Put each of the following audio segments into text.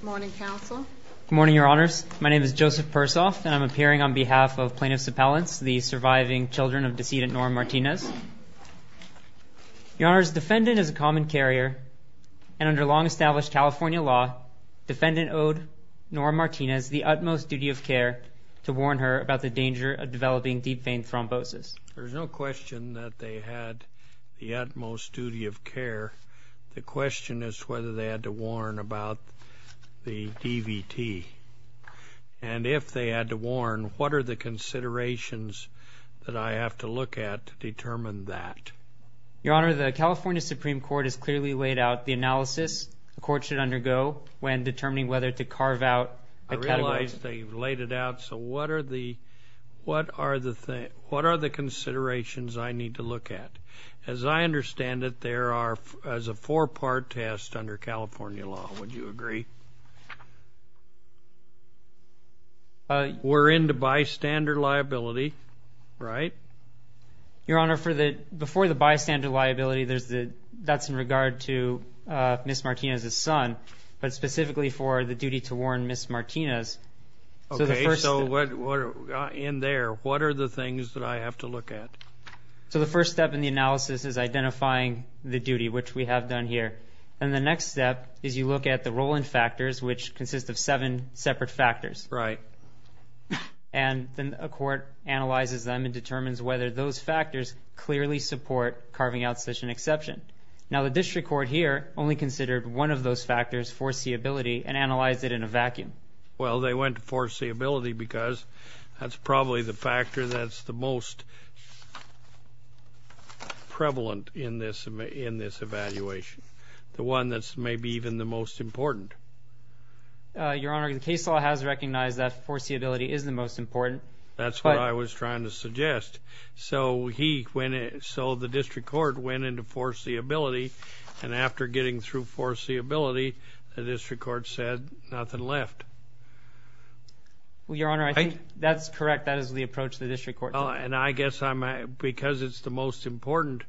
Good morning, Your Honors. My name is Joseph Persoff, and I'm appearing on behalf of plaintiff's appellants, the surviving children of decedent Nora Martinez. Your Honors, defendant is a common carrier, and under long-established California law, defendant owed Nora Martinez the utmost duty of care to warn her about the danger of developing deep vein thrombosis. There's no question that they had the utmost duty of care. The question is whether they had to warn about the DVT. And if they had to warn, what are the considerations that I have to look at to determine that? Your Honor, the California Supreme Court has clearly laid out the analysis the court should undergo when determining whether to carve out a category. I realize they laid it out, so what are the considerations I need to look at? As I understand it, there is a four-part test under California law, would you agree? We're into bystander liability, right? Your Honor, before the bystander liability, that's in regard to Ms. Martinez's son, but specifically for the duty to warn Ms. Martinez. Okay, so in there, what are the things that I have to look at? So the first step in the analysis is identifying the duty, which we have done here. And the next step is you look at the Roland factors, which consist of seven separate factors. And then a court analyzes them and determines whether those factors clearly support carving out such an exception. Now the district court here only considered one of those factors, foreseeability, and analyzed it in a vacuum. Well they went to foreseeability because that's probably the factor that's the most prevalent in this evaluation. The one that's maybe even the most important. Your Honor, the case law has recognized that foreseeability is the most important. That's what I was trying to suggest. So the district court went into foreseeability, and after getting through foreseeability, the district court said nothing left. Well, Your Honor, I think that's correct. That is the approach the district court took. And I guess because it's the most important,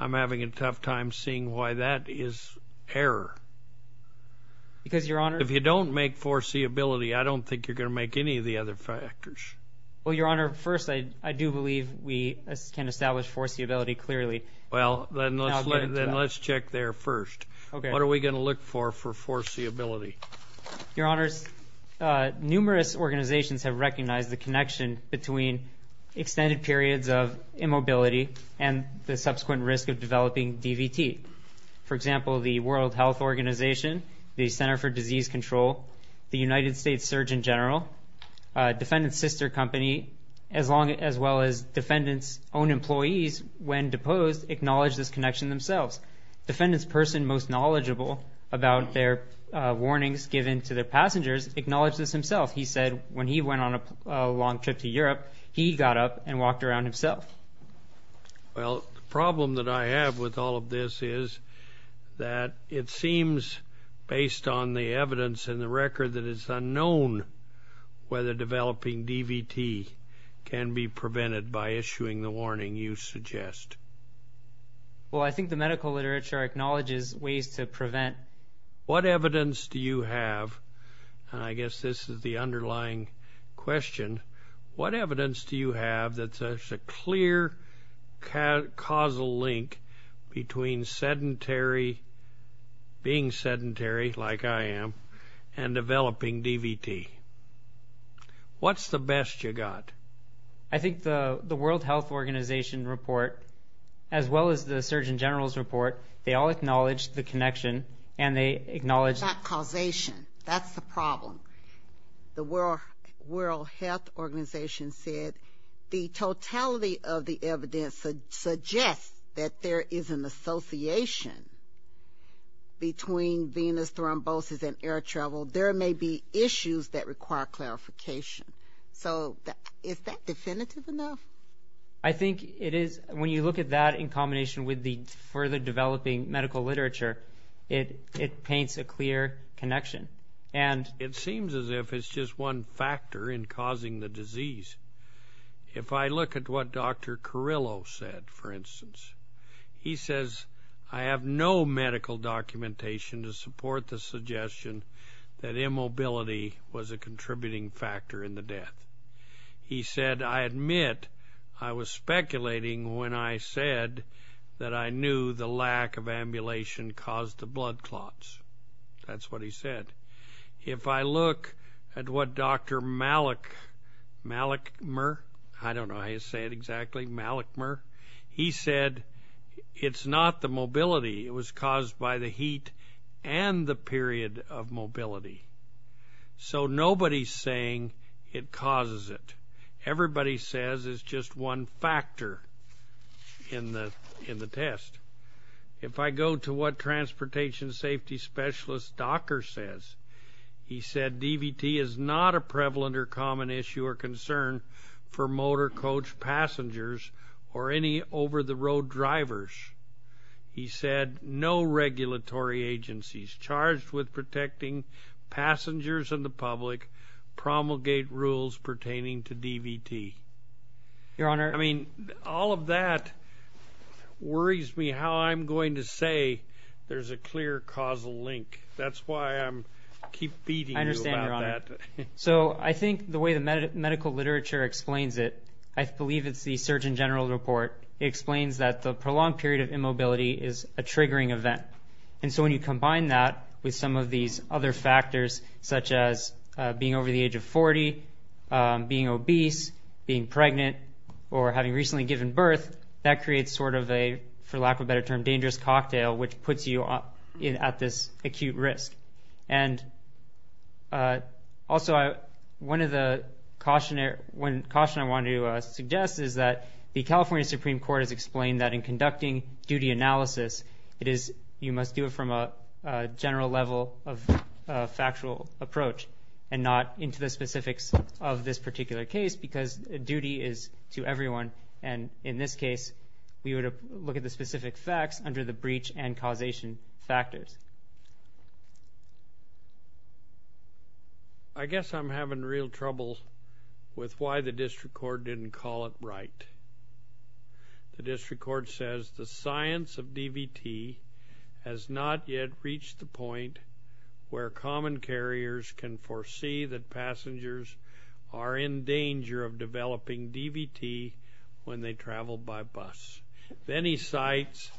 I'm having a tough time seeing why that is error. Because Your Honor... If you don't make foreseeability, I don't think you're going to make any of the other factors. Well, Your Honor, first, I do believe we can establish foreseeability clearly. Well then let's check there first. What are we going to look for for foreseeability? Your Honors, numerous organizations have recognized the connection between extended periods of immobility and the subsequent risk of developing DVT. For example, the World Health Organization, the Center for Disease Control, the United States Surgeon General, Defendant's Sister Company, as well as Defendant's own employees when deposed acknowledge this connection themselves. Defendant's person most knowledgeable about their warnings given to their passengers acknowledges this himself. He said when he went on a long trip to Europe, he got up and walked around himself. Well, the problem that I have with all of this is that it seems based on the evidence and the record that it's unknown whether developing DVT can be prevented by issuing the warning you suggest. Well, I think the medical literature acknowledges ways to prevent. What evidence do you have, and I guess this is the underlying question, what evidence do you have that there's a clear causal link between sedentary, being sedentary like I am, and developing DVT? What's the best you got? I think the World Health Organization report, as well as the Surgeon General's report, they all acknowledge the connection, and they acknowledge That causation, that's the problem. The World Health Organization said the totality of the evidence suggests that there is an association between venous thrombosis and air travel. There may be issues that require clarification. So is that definitive enough? I think it is. When you look at that in combination with the further developing medical literature, it paints a clear connection. It seems as if it's just one factor in causing the disease. If I look at what Dr. Carrillo said, for instance, he says, I have no medical documentation to support the suggestion that immobility was a contributing factor in the death. He said, I admit, I was speculating when I said that I knew the lack of ambulation caused the blood clots. That's what he said. If I look at what Dr. Malakmer, I don't know how you say it exactly, Malakmer, he said, it's not the mobility, it was caused by the heat and the period of mobility. So nobody's saying it causes it. Everybody says it's just one factor in the test. If I go to what Transportation Safety Specialist Docker says, he said, DVT is not a prevalent or common issue or concern for motor coach passengers or any over-the-road drivers. He said, no regulatory agencies charged with protecting passengers and the public promulgate rules pertaining to DVT. I mean, all of that worries me how I'm going to say there's a clear causal link. That's why I keep beating you about that. So I think the way the medical literature explains it, I believe it's the Surgeon General Report explains that the prolonged period of immobility is a triggering event. And so when you combine that with some of these other factors, such as being over the age of 40, being obese, being pregnant, or having recently given birth, that creates sort of a, for lack of a better term, dangerous cocktail, which puts you at this acute risk. And also, one of the caution I want to suggest is that the California Supreme Court has explained that in conducting duty analysis, you must do it from a general level of factual approach and not into the specifics of this particular case, because duty is to everyone. And in this case, we would look at the specific facts under the breach and causation factors. I guess I'm having real trouble with why the district court didn't call it right. The district court says the science of DVT has not yet reached the point where common carriers can foresee that passengers are in danger of developing DVT when they travel by bus. Then he cites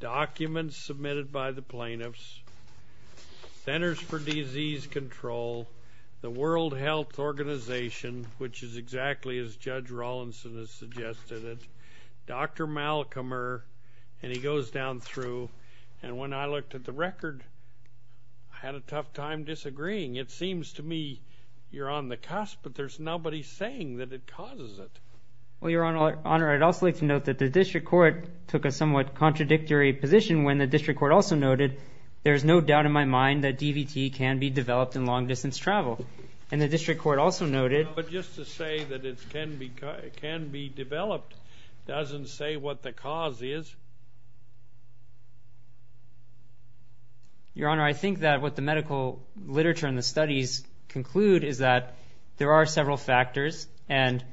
documents submitted by the plaintiffs, Centers for Disease Control, the World Health Organization, which is exactly as Judge Rawlinson has suggested it, Dr. Malcommer, and he goes down through, and when I looked at the record, I had a tough time disagreeing. It seems to me you're on the cusp, but there's nobody saying that it causes it. Well, Your Honor, I'd also like to note that the district court took a somewhat contradictory position when the district court also noted, there's no doubt in my mind that DVT can be developed in long-distance travel. And the district court also noted... But just to say that it can be developed doesn't say what the cause is. Your Honor, I think that what the medical literature and the studies conclude is that there are several factors and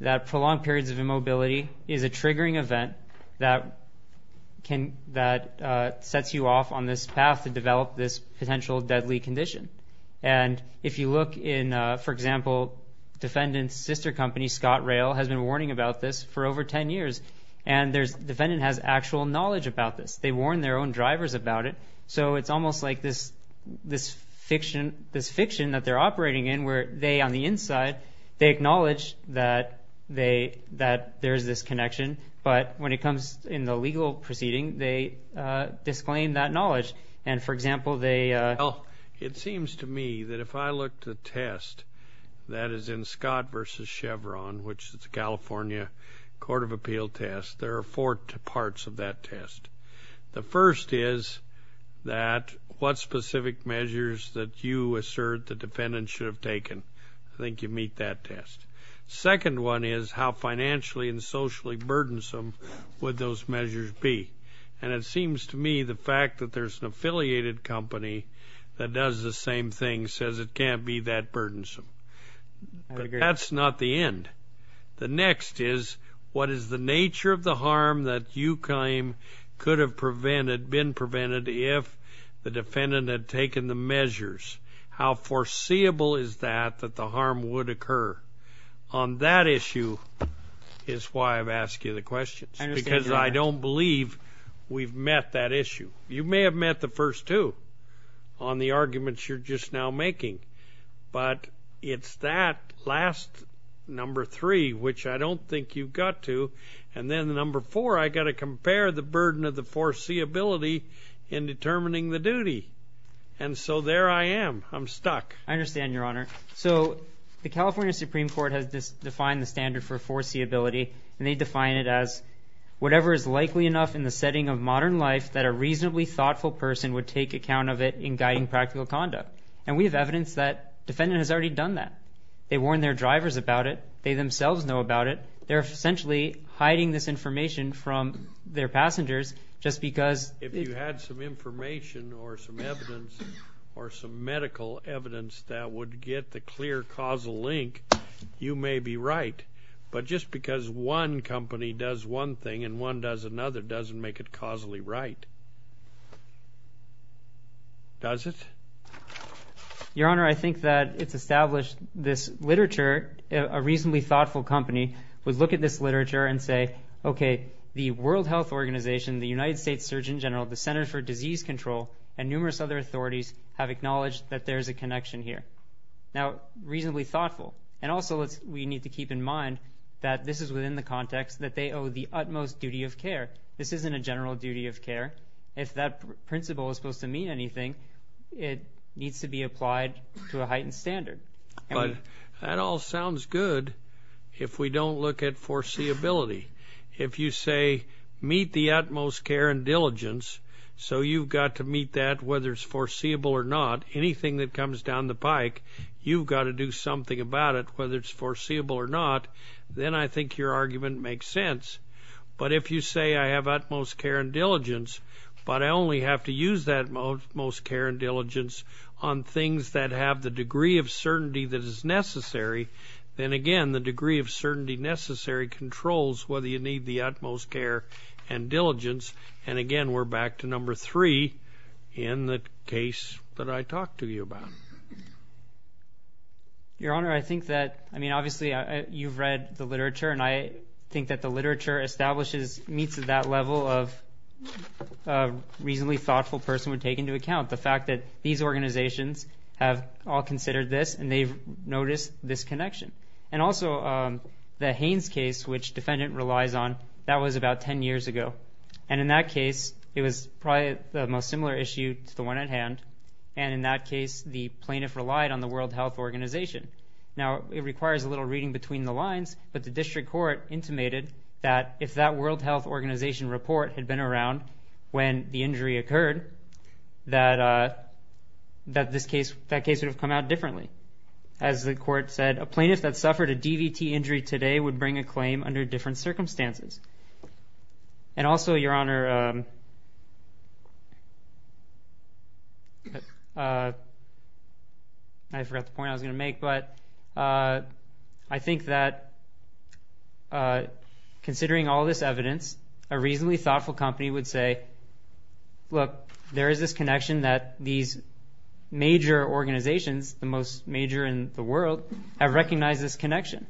that prolonged periods of immobility is a triggering event that sets you off on this path to develop this potential deadly condition. And if you look in, for example, defendant's sister company, Scott Rail, has been warning about this for over 10 years. And the defendant has actual knowledge about this. They warn their own drivers about it. So it's almost like this fiction that they're operating in where they, on the inside, they acknowledge that there's this connection. But when it comes in the legal proceeding, they claim that knowledge. And for example, they... Well, it seems to me that if I look to the test that is in Scott versus Chevron, which is the California Court of Appeal test, there are four parts of that test. The first is that what specific measures that you assert the defendant should have taken. I think you meet that test. Second one is how financially and socially burdensome would those measures be? And it seems to me the fact that there's an affiliated company that does the same thing says it can't be that burdensome. But that's not the end. The next is what is the nature of the harm that you claim could have prevented, been prevented, if the defendant had taken the measures? How foreseeable is that that the harm would occur? On that issue is why I've asked you the questions. Because I don't believe we've met that issue. You may have met the first two on the arguments you're just now making. But it's that last number three, which I don't think you've got to. And then the number four, I got to compare the burden of the foreseeability in determining the duty. And so there I am. I'm stuck. I understand, Your Honor. So the California Supreme Court has defined the standard for foreseeability. And they define it as whatever is likely enough in the setting of modern life that a reasonably thoughtful person would take account of it in guiding practical conduct. And we have evidence that defendant has already done that. They warn their drivers about it. They themselves know about it. They're essentially hiding this information from their passengers just because... If you had some clear causal link, you may be right. But just because one company does one thing and one does another doesn't make it causally right. Does it? Your Honor, I think that it's established this literature, a reasonably thoughtful company would look at this literature and say, okay, the World Health Organization, the United States Surgeon General, the Center for Disease Control, and numerous other authorities have acknowledged that there's a connection here. Now, reasonably thoughtful. And also, we need to keep in mind that this is within the context that they owe the utmost duty of care. This isn't a general duty of care. If that principle is supposed to mean anything, it needs to be applied to a heightened standard. But that all sounds good if we don't look at foreseeability. If you say, meet the utmost care and diligence, so you've got to meet that whether it's foreseeable or not. Anything that comes down the pike, you've got to do something about it, whether it's foreseeable or not, then I think your argument makes sense. But if you say, I have utmost care and diligence, but I only have to use that utmost care and diligence on things that have the degree of certainty that is necessary, then again, the degree of certainty necessary controls whether you need the utmost care and diligence. And again, we're back to number three in the case that I talked to you about. Your Honor, I think that, I mean, obviously, you've read the literature, and I think that the literature establishes, meets at that level of a reasonably thoughtful person would take into account the fact that these organizations have all considered this, and they've noticed this connection. And also, the Haines case, which defendant relies on, that was about 10 years ago. And in that case, it was probably the most similar issue to the one at hand. And in that case, the plaintiff relied on the World Health Organization. Now, it requires a little reading between the lines, but the district court intimated that if that World Health Organization report had been around when the injury occurred, that this case, that case would have come out differently. As the court said, a plaintiff that suffered a DVT injury today would bring a claim under different circumstances. And also, Your Honor, I forgot the point I was going to make, but I think that considering all this evidence, a reasonably thoughtful company would say, look, there is this connection that these major organizations, the most major in the world, have recognized this connection.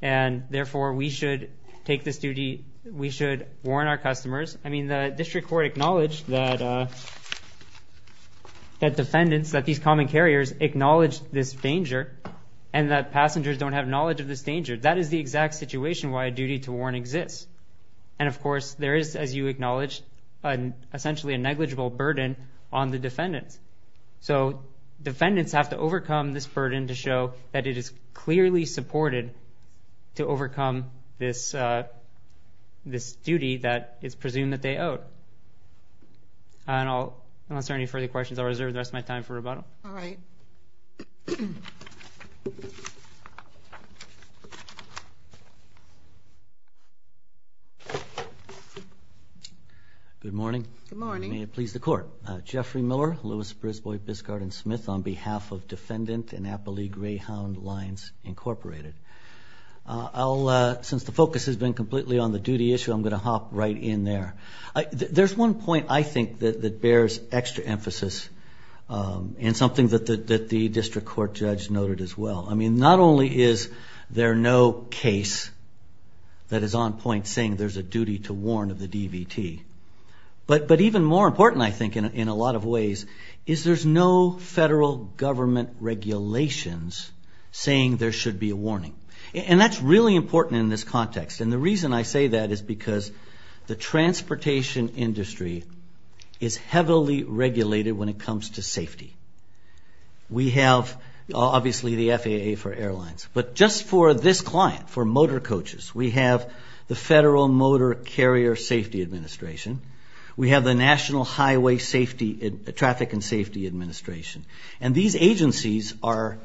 And therefore, we should take this duty, we should warn our customers. I mean, the district court acknowledged that defendants, that these common carriers acknowledge this danger, and that passengers don't have knowledge of this danger. That is the exact situation why a duty to warn exists. And of course, the district court acknowledged essentially a negligible burden on the defendants. So defendants have to overcome this burden to show that it is clearly supported to overcome this duty that it's presumed that they owe. And unless there are any further questions, I'll reserve the rest of my time for rebuttal. All right. Good morning. May it please the court. Jeffrey Miller, Lewis, Brisbois, Biscard, and Smith on behalf of Defendant Annapolis Greyhound Lines Incorporated. Since the focus has been completely on the duty issue, I'm going to hop right in there. There's one point I think that bears extra emphasis and something that the district court judge noted as well. I mean, not only is there no case that is on point saying there's a duty to warn of the DVT, but even more important I think in a lot of ways is there's no federal government regulations saying there should be a warning. And that's really important in this context. And the reason I say that is because the transportation industry is heavily regulated when it comes to safety. We have obviously the FAA for airlines, but just for this client, for motor carrier safety administration. We have the National Highway Traffic and Safety Administration. And these agencies are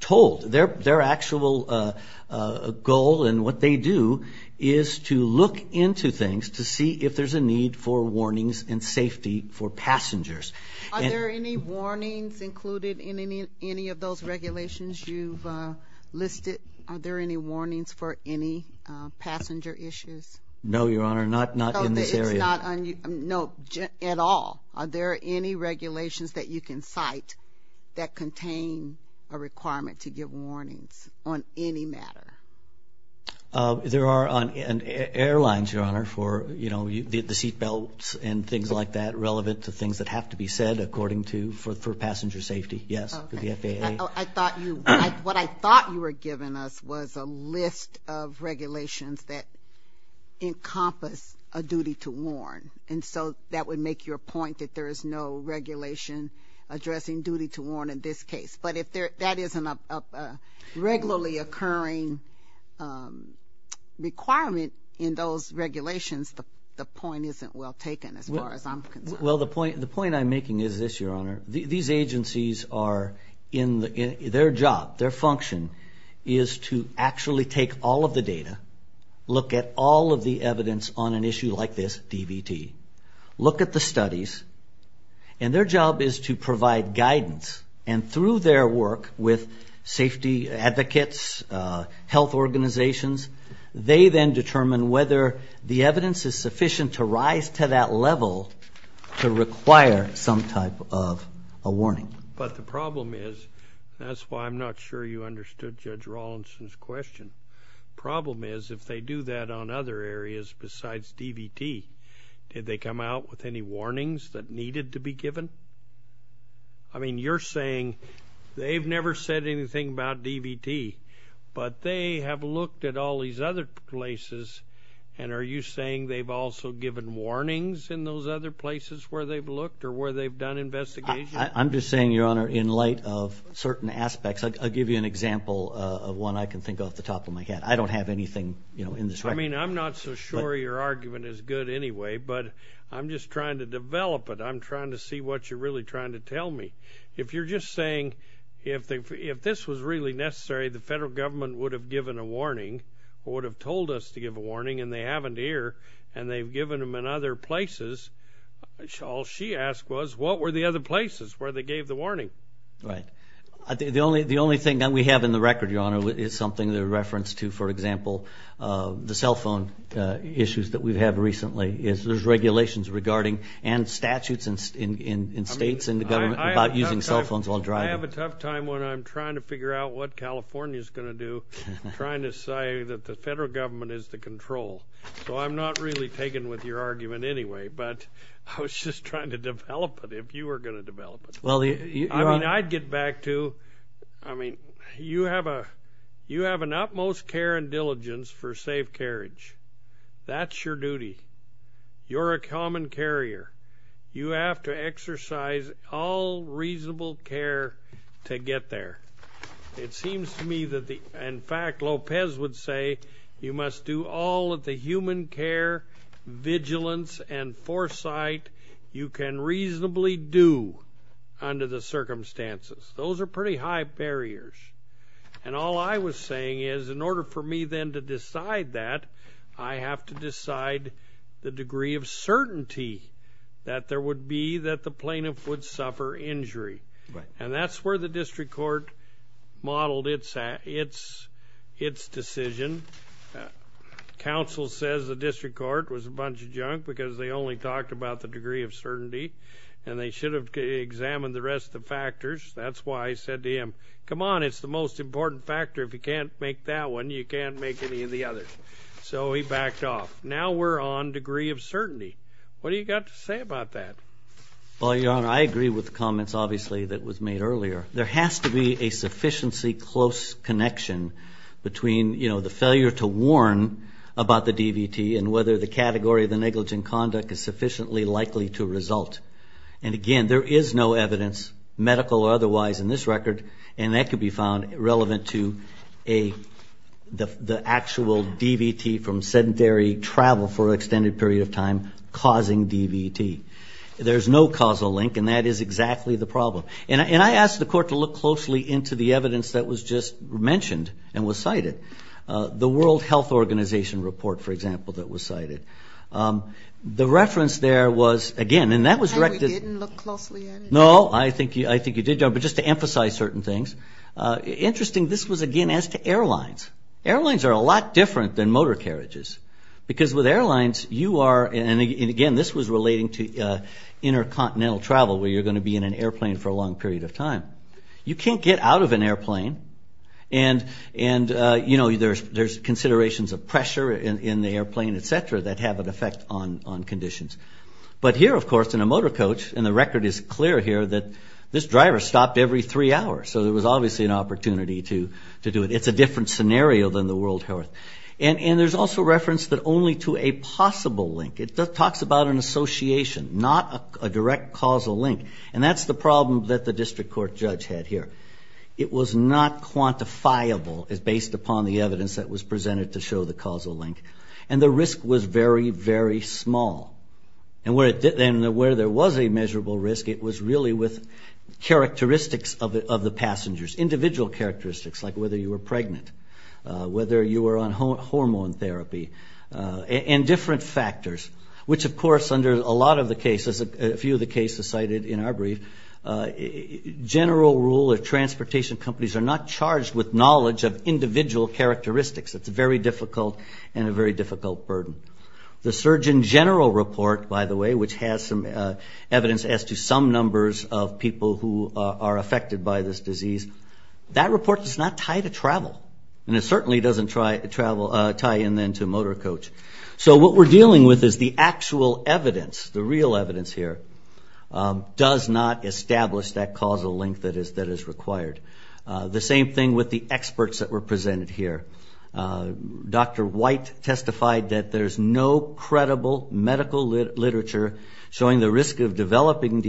told, their actual goal and what they do is to look into things to see if there's a need for warnings and safety for passengers. Are there any warnings included in any of those regulations you've listed? Are there any warnings for any passenger issues? No, Your Honor, not in this area. No, at all. Are there any regulations that you can cite that contain a requirement to give warnings on any matter? There are on airlines, Your Honor, for the seatbelts and things like that relevant to things that have to be said according to, for passenger safety. Yes, for the FAA. I thought you, what I thought you were giving us was a list of regulations that encompass a duty to warn. And so that would make your point that there is no regulation addressing duty to warn in this case. But if that isn't a regularly occurring requirement in those regulations, the point isn't well taken as far as I'm concerned. Well, the point I'm making is this, Your Honor. These agencies are in their job, their function is to actually take all of the data, look at all of the evidence on an issue like this DVT, look at the studies, and their job is to provide guidance. And through their work with safety advocates, health organizations, they then determine whether the evidence is sufficient to rise to that level to require some type of a warning. But the problem is, that's why I'm not sure you understood Judge Rawlinson's question. Problem is, if they do that on other areas besides DVT, did they come out with any warnings that needed to be given? I mean, you're saying they've never said anything about DVT, but they have looked at all these other places, and are you saying they've also given warnings in those other places where they've looked or where they've done investigation? I'm just saying, Your Honor, in light of certain aspects, I'll give you an example of one I can think of off the top of my head. I don't have anything, you know, in this record. I mean, I'm not so sure your argument is good anyway, but I'm just trying to develop it. I'm trying to see what you're really trying to tell me. If you're just saying, if this was really necessary, the federal government would have given a warning or would have told us to and they haven't here, and they've given them in other places. All she asked was, what were the other places where they gave the warning? Right. The only thing that we have in the record, Your Honor, is something that a reference to, for example, the cell phone issues that we've had recently. There's regulations regarding, and statutes in states and the government, about using cell phones while driving. I have a tough time when I'm trying to figure out what So I'm not really taken with your argument anyway, but I was just trying to develop it, if you were going to develop it. I mean, I'd get back to, I mean, you have an utmost care and diligence for safe carriage. That's your duty. You're a common carrier. You have to exercise all reasonable care to get there. It seems to me that the, in fact, Lopez would say, you must do all of the human care, vigilance, and foresight you can reasonably do under the circumstances. Those are pretty high barriers. And all I was saying is, in order for me then to decide that, I have to decide the degree of certainty that there would be that plaintiff would suffer injury. And that's where the district court modeled its decision. Counsel says the district court was a bunch of junk because they only talked about the degree of certainty, and they should have examined the rest of the factors. That's why I said to him, come on, it's the most important factor. If you can't make that one, you can't make any of the others. So he backed off. Now we're on degree of certainty. What do you got to say about that? Well, Your Honor, I agree with the comments, obviously, that was made earlier. There has to be a sufficiency close connection between the failure to warn about the DVT and whether the category of the negligent conduct is sufficiently likely to result. And again, there is no evidence, medical or otherwise, in this record, and that could be found relevant to the actual DVT from travel for an extended period of time, causing DVT. There's no causal link, and that is exactly the problem. And I asked the court to look closely into the evidence that was just mentioned and was cited. The World Health Organization report, for example, that was cited. The reference there was, again, and that was directed... And we didn't look closely at it? No, I think you did, Your Honor, but just to emphasize certain things. Interesting, this was again as to airlines. Airlines are a lot different than motor carriages because with airlines you are... And again, this was relating to intercontinental travel where you're going to be in an airplane for a long period of time. You can't get out of an airplane, and there's considerations of pressure in the airplane, et cetera, that have an effect on conditions. But here, of course, in a motor coach, and the record is clear here, that this driver stopped every three hours. So there was obviously an opportunity to do it. It's a different scenario than the World Health... And there's also reference that only to a possible link. It talks about an association, not a direct causal link. And that's the problem that the district court judge had here. It was not quantifiable as based upon the evidence that was presented to show the causal link. And the risk was very, very small. And where there was a measurable risk, it was really with characteristics of the passengers, individual characteristics, like whether you were pregnant, whether you were on hormone therapy, and different factors, which, of course, under a lot of the cases, a few of the cases cited in our brief, general rule of transportation companies are not charged with knowledge of individual characteristics. It's very difficult and a very difficult burden. The Surgeon General Report, by the way, which has some numbers of people who are affected by this disease, that report does not tie to travel. And it certainly doesn't tie in then to motor coach. So what we're dealing with is the actual evidence, the real evidence here, does not establish that causal link that is required. The same thing with the experts that were presented here. Dr. White testified that there's no of developing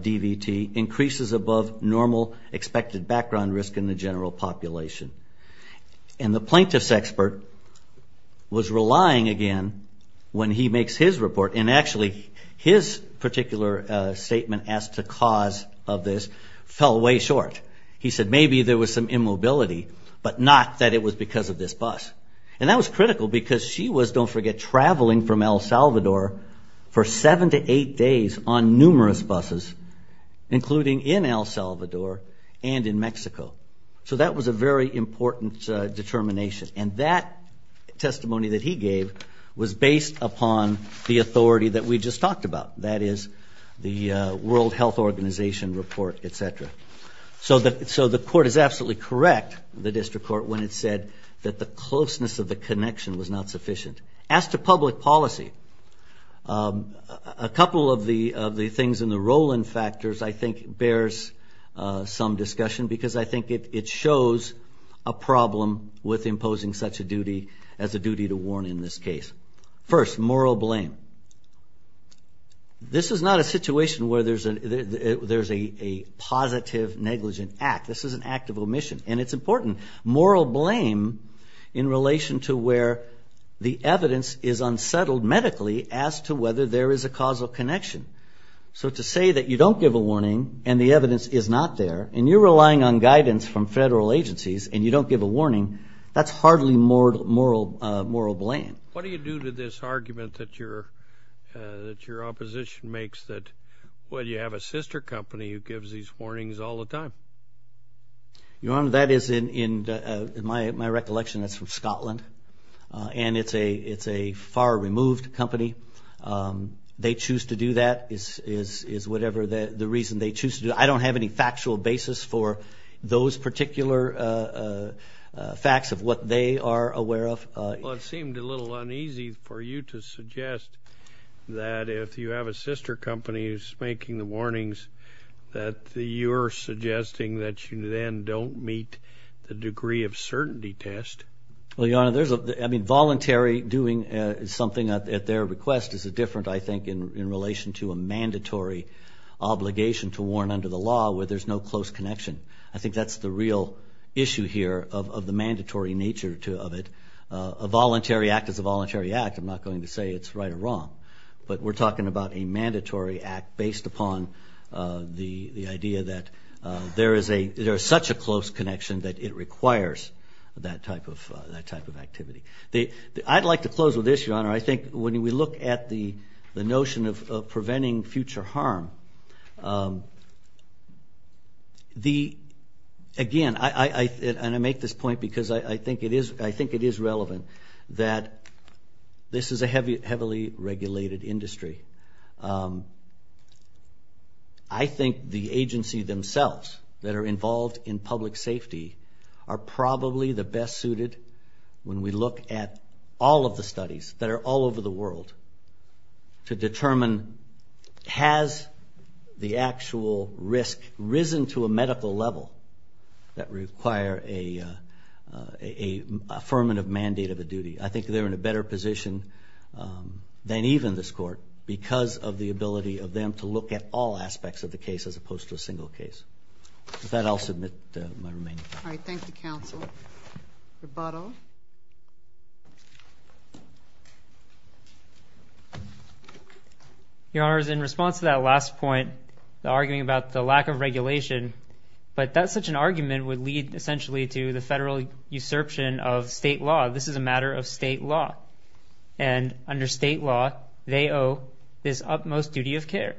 DVT increases above normal expected background risk in the general population. And the plaintiff's expert was relying, again, when he makes his report, and actually his particular statement as to cause of this fell way short. He said maybe there was some immobility, but not that it was because of this bus. And that was critical because she was, don't forget, traveling from El Salvador for seven to eight days on numerous buses, including in El Salvador and in Mexico. So that was a very important determination. And that testimony that he gave was based upon the authority that we just talked about, that is the World Health Organization report, et cetera. So the court is absolutely correct, the district court, when it said that the closeness of the connection was not sufficient. As to public policy, a couple of the things in the Rowland factors I think bears some discussion because I think it shows a problem with imposing such a duty as a duty to warn in this case. First, moral blame. This is not a situation where there's a positive negligent act. This is an act of blame in relation to where the evidence is unsettled medically as to whether there is a causal connection. So to say that you don't give a warning and the evidence is not there, and you're relying on guidance from federal agencies and you don't give a warning, that's hardly moral blame. What do you do to this argument that your opposition makes that, well, you have a sister company who gives these warnings all the time? Your Honor, that is in my recollection that's from Scotland, and it's a far removed company. They choose to do that is whatever the reason they choose to do it. I don't have any factual basis for those particular facts of what they are aware of. Well, it seemed a little uneasy for you to suggest that if you have a sister company who's making the warnings that you're suggesting that you then don't meet the degree of certainty test. Well, Your Honor, voluntary doing something at their request is different, I think, in relation to a mandatory obligation to warn under the law where there's no close connection. I think that's the real issue here of the mandatory nature of it. A voluntary act is a voluntary act. I'm not going to say it's wrong, but we're talking about a mandatory act based upon the idea that there is such a close connection that it requires that type of activity. I'd like to close with this, Your Honor. I think when we look at the notion of preventing future harm, again, and I make this point because I think it is relevant, that this is a heavily regulated industry. I think the agency themselves that are involved in public safety are probably the best suited when we look at all of the studies that are all over the world to determine has the actual risk risen to a medical level that require a affirmative mandate of a duty. I think they're in a better position than even this Court because of the ability of them to look at all aspects of the case as opposed to a single case. With that, I'll submit my remaining. All right. Thank you, Counsel. Rebuttal. Your Honors, in response to that last point, the arguing about the lack of regulation, but that such an argument would lead essentially to the federal usurpation of state law. This is a matter of state law. Under state law, they owe this utmost duty of care.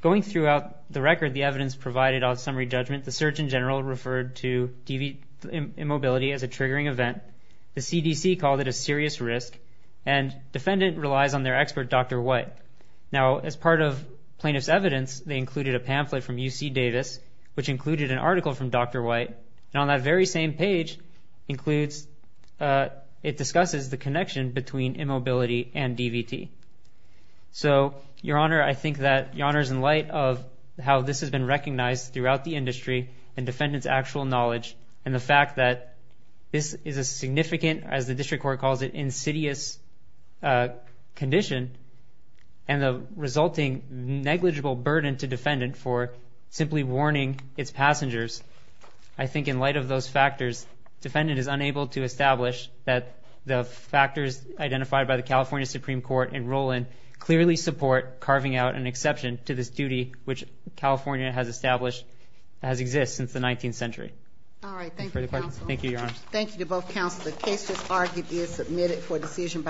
Going throughout the record, the evidence provided on summary judgment, the Surgeon General referred to DV immobility as a triggering event. The CDC called it a serious risk. Defendant relies on their expert, Dr. White. As part of plaintiff's evidence, they included a pamphlet from UC Davis, which included an article from Dr. White. On that very same page, it discusses the connection between immobility and DVT. Your Honor, I think that your Honor's in light of how this has been recognized throughout the industry and defendant's actual knowledge and the fact that this is a and the resulting negligible burden to defendant for simply warning its passengers. I think in light of those factors, defendant is unable to establish that the factors identified by the California Supreme Court and Roland clearly support carving out an exception to this duty, which California has established, has existed since the 19th century. All right. Thank you. Thank you, Your Honors. Thank you to both counsel. The case just argued is submitted for decision by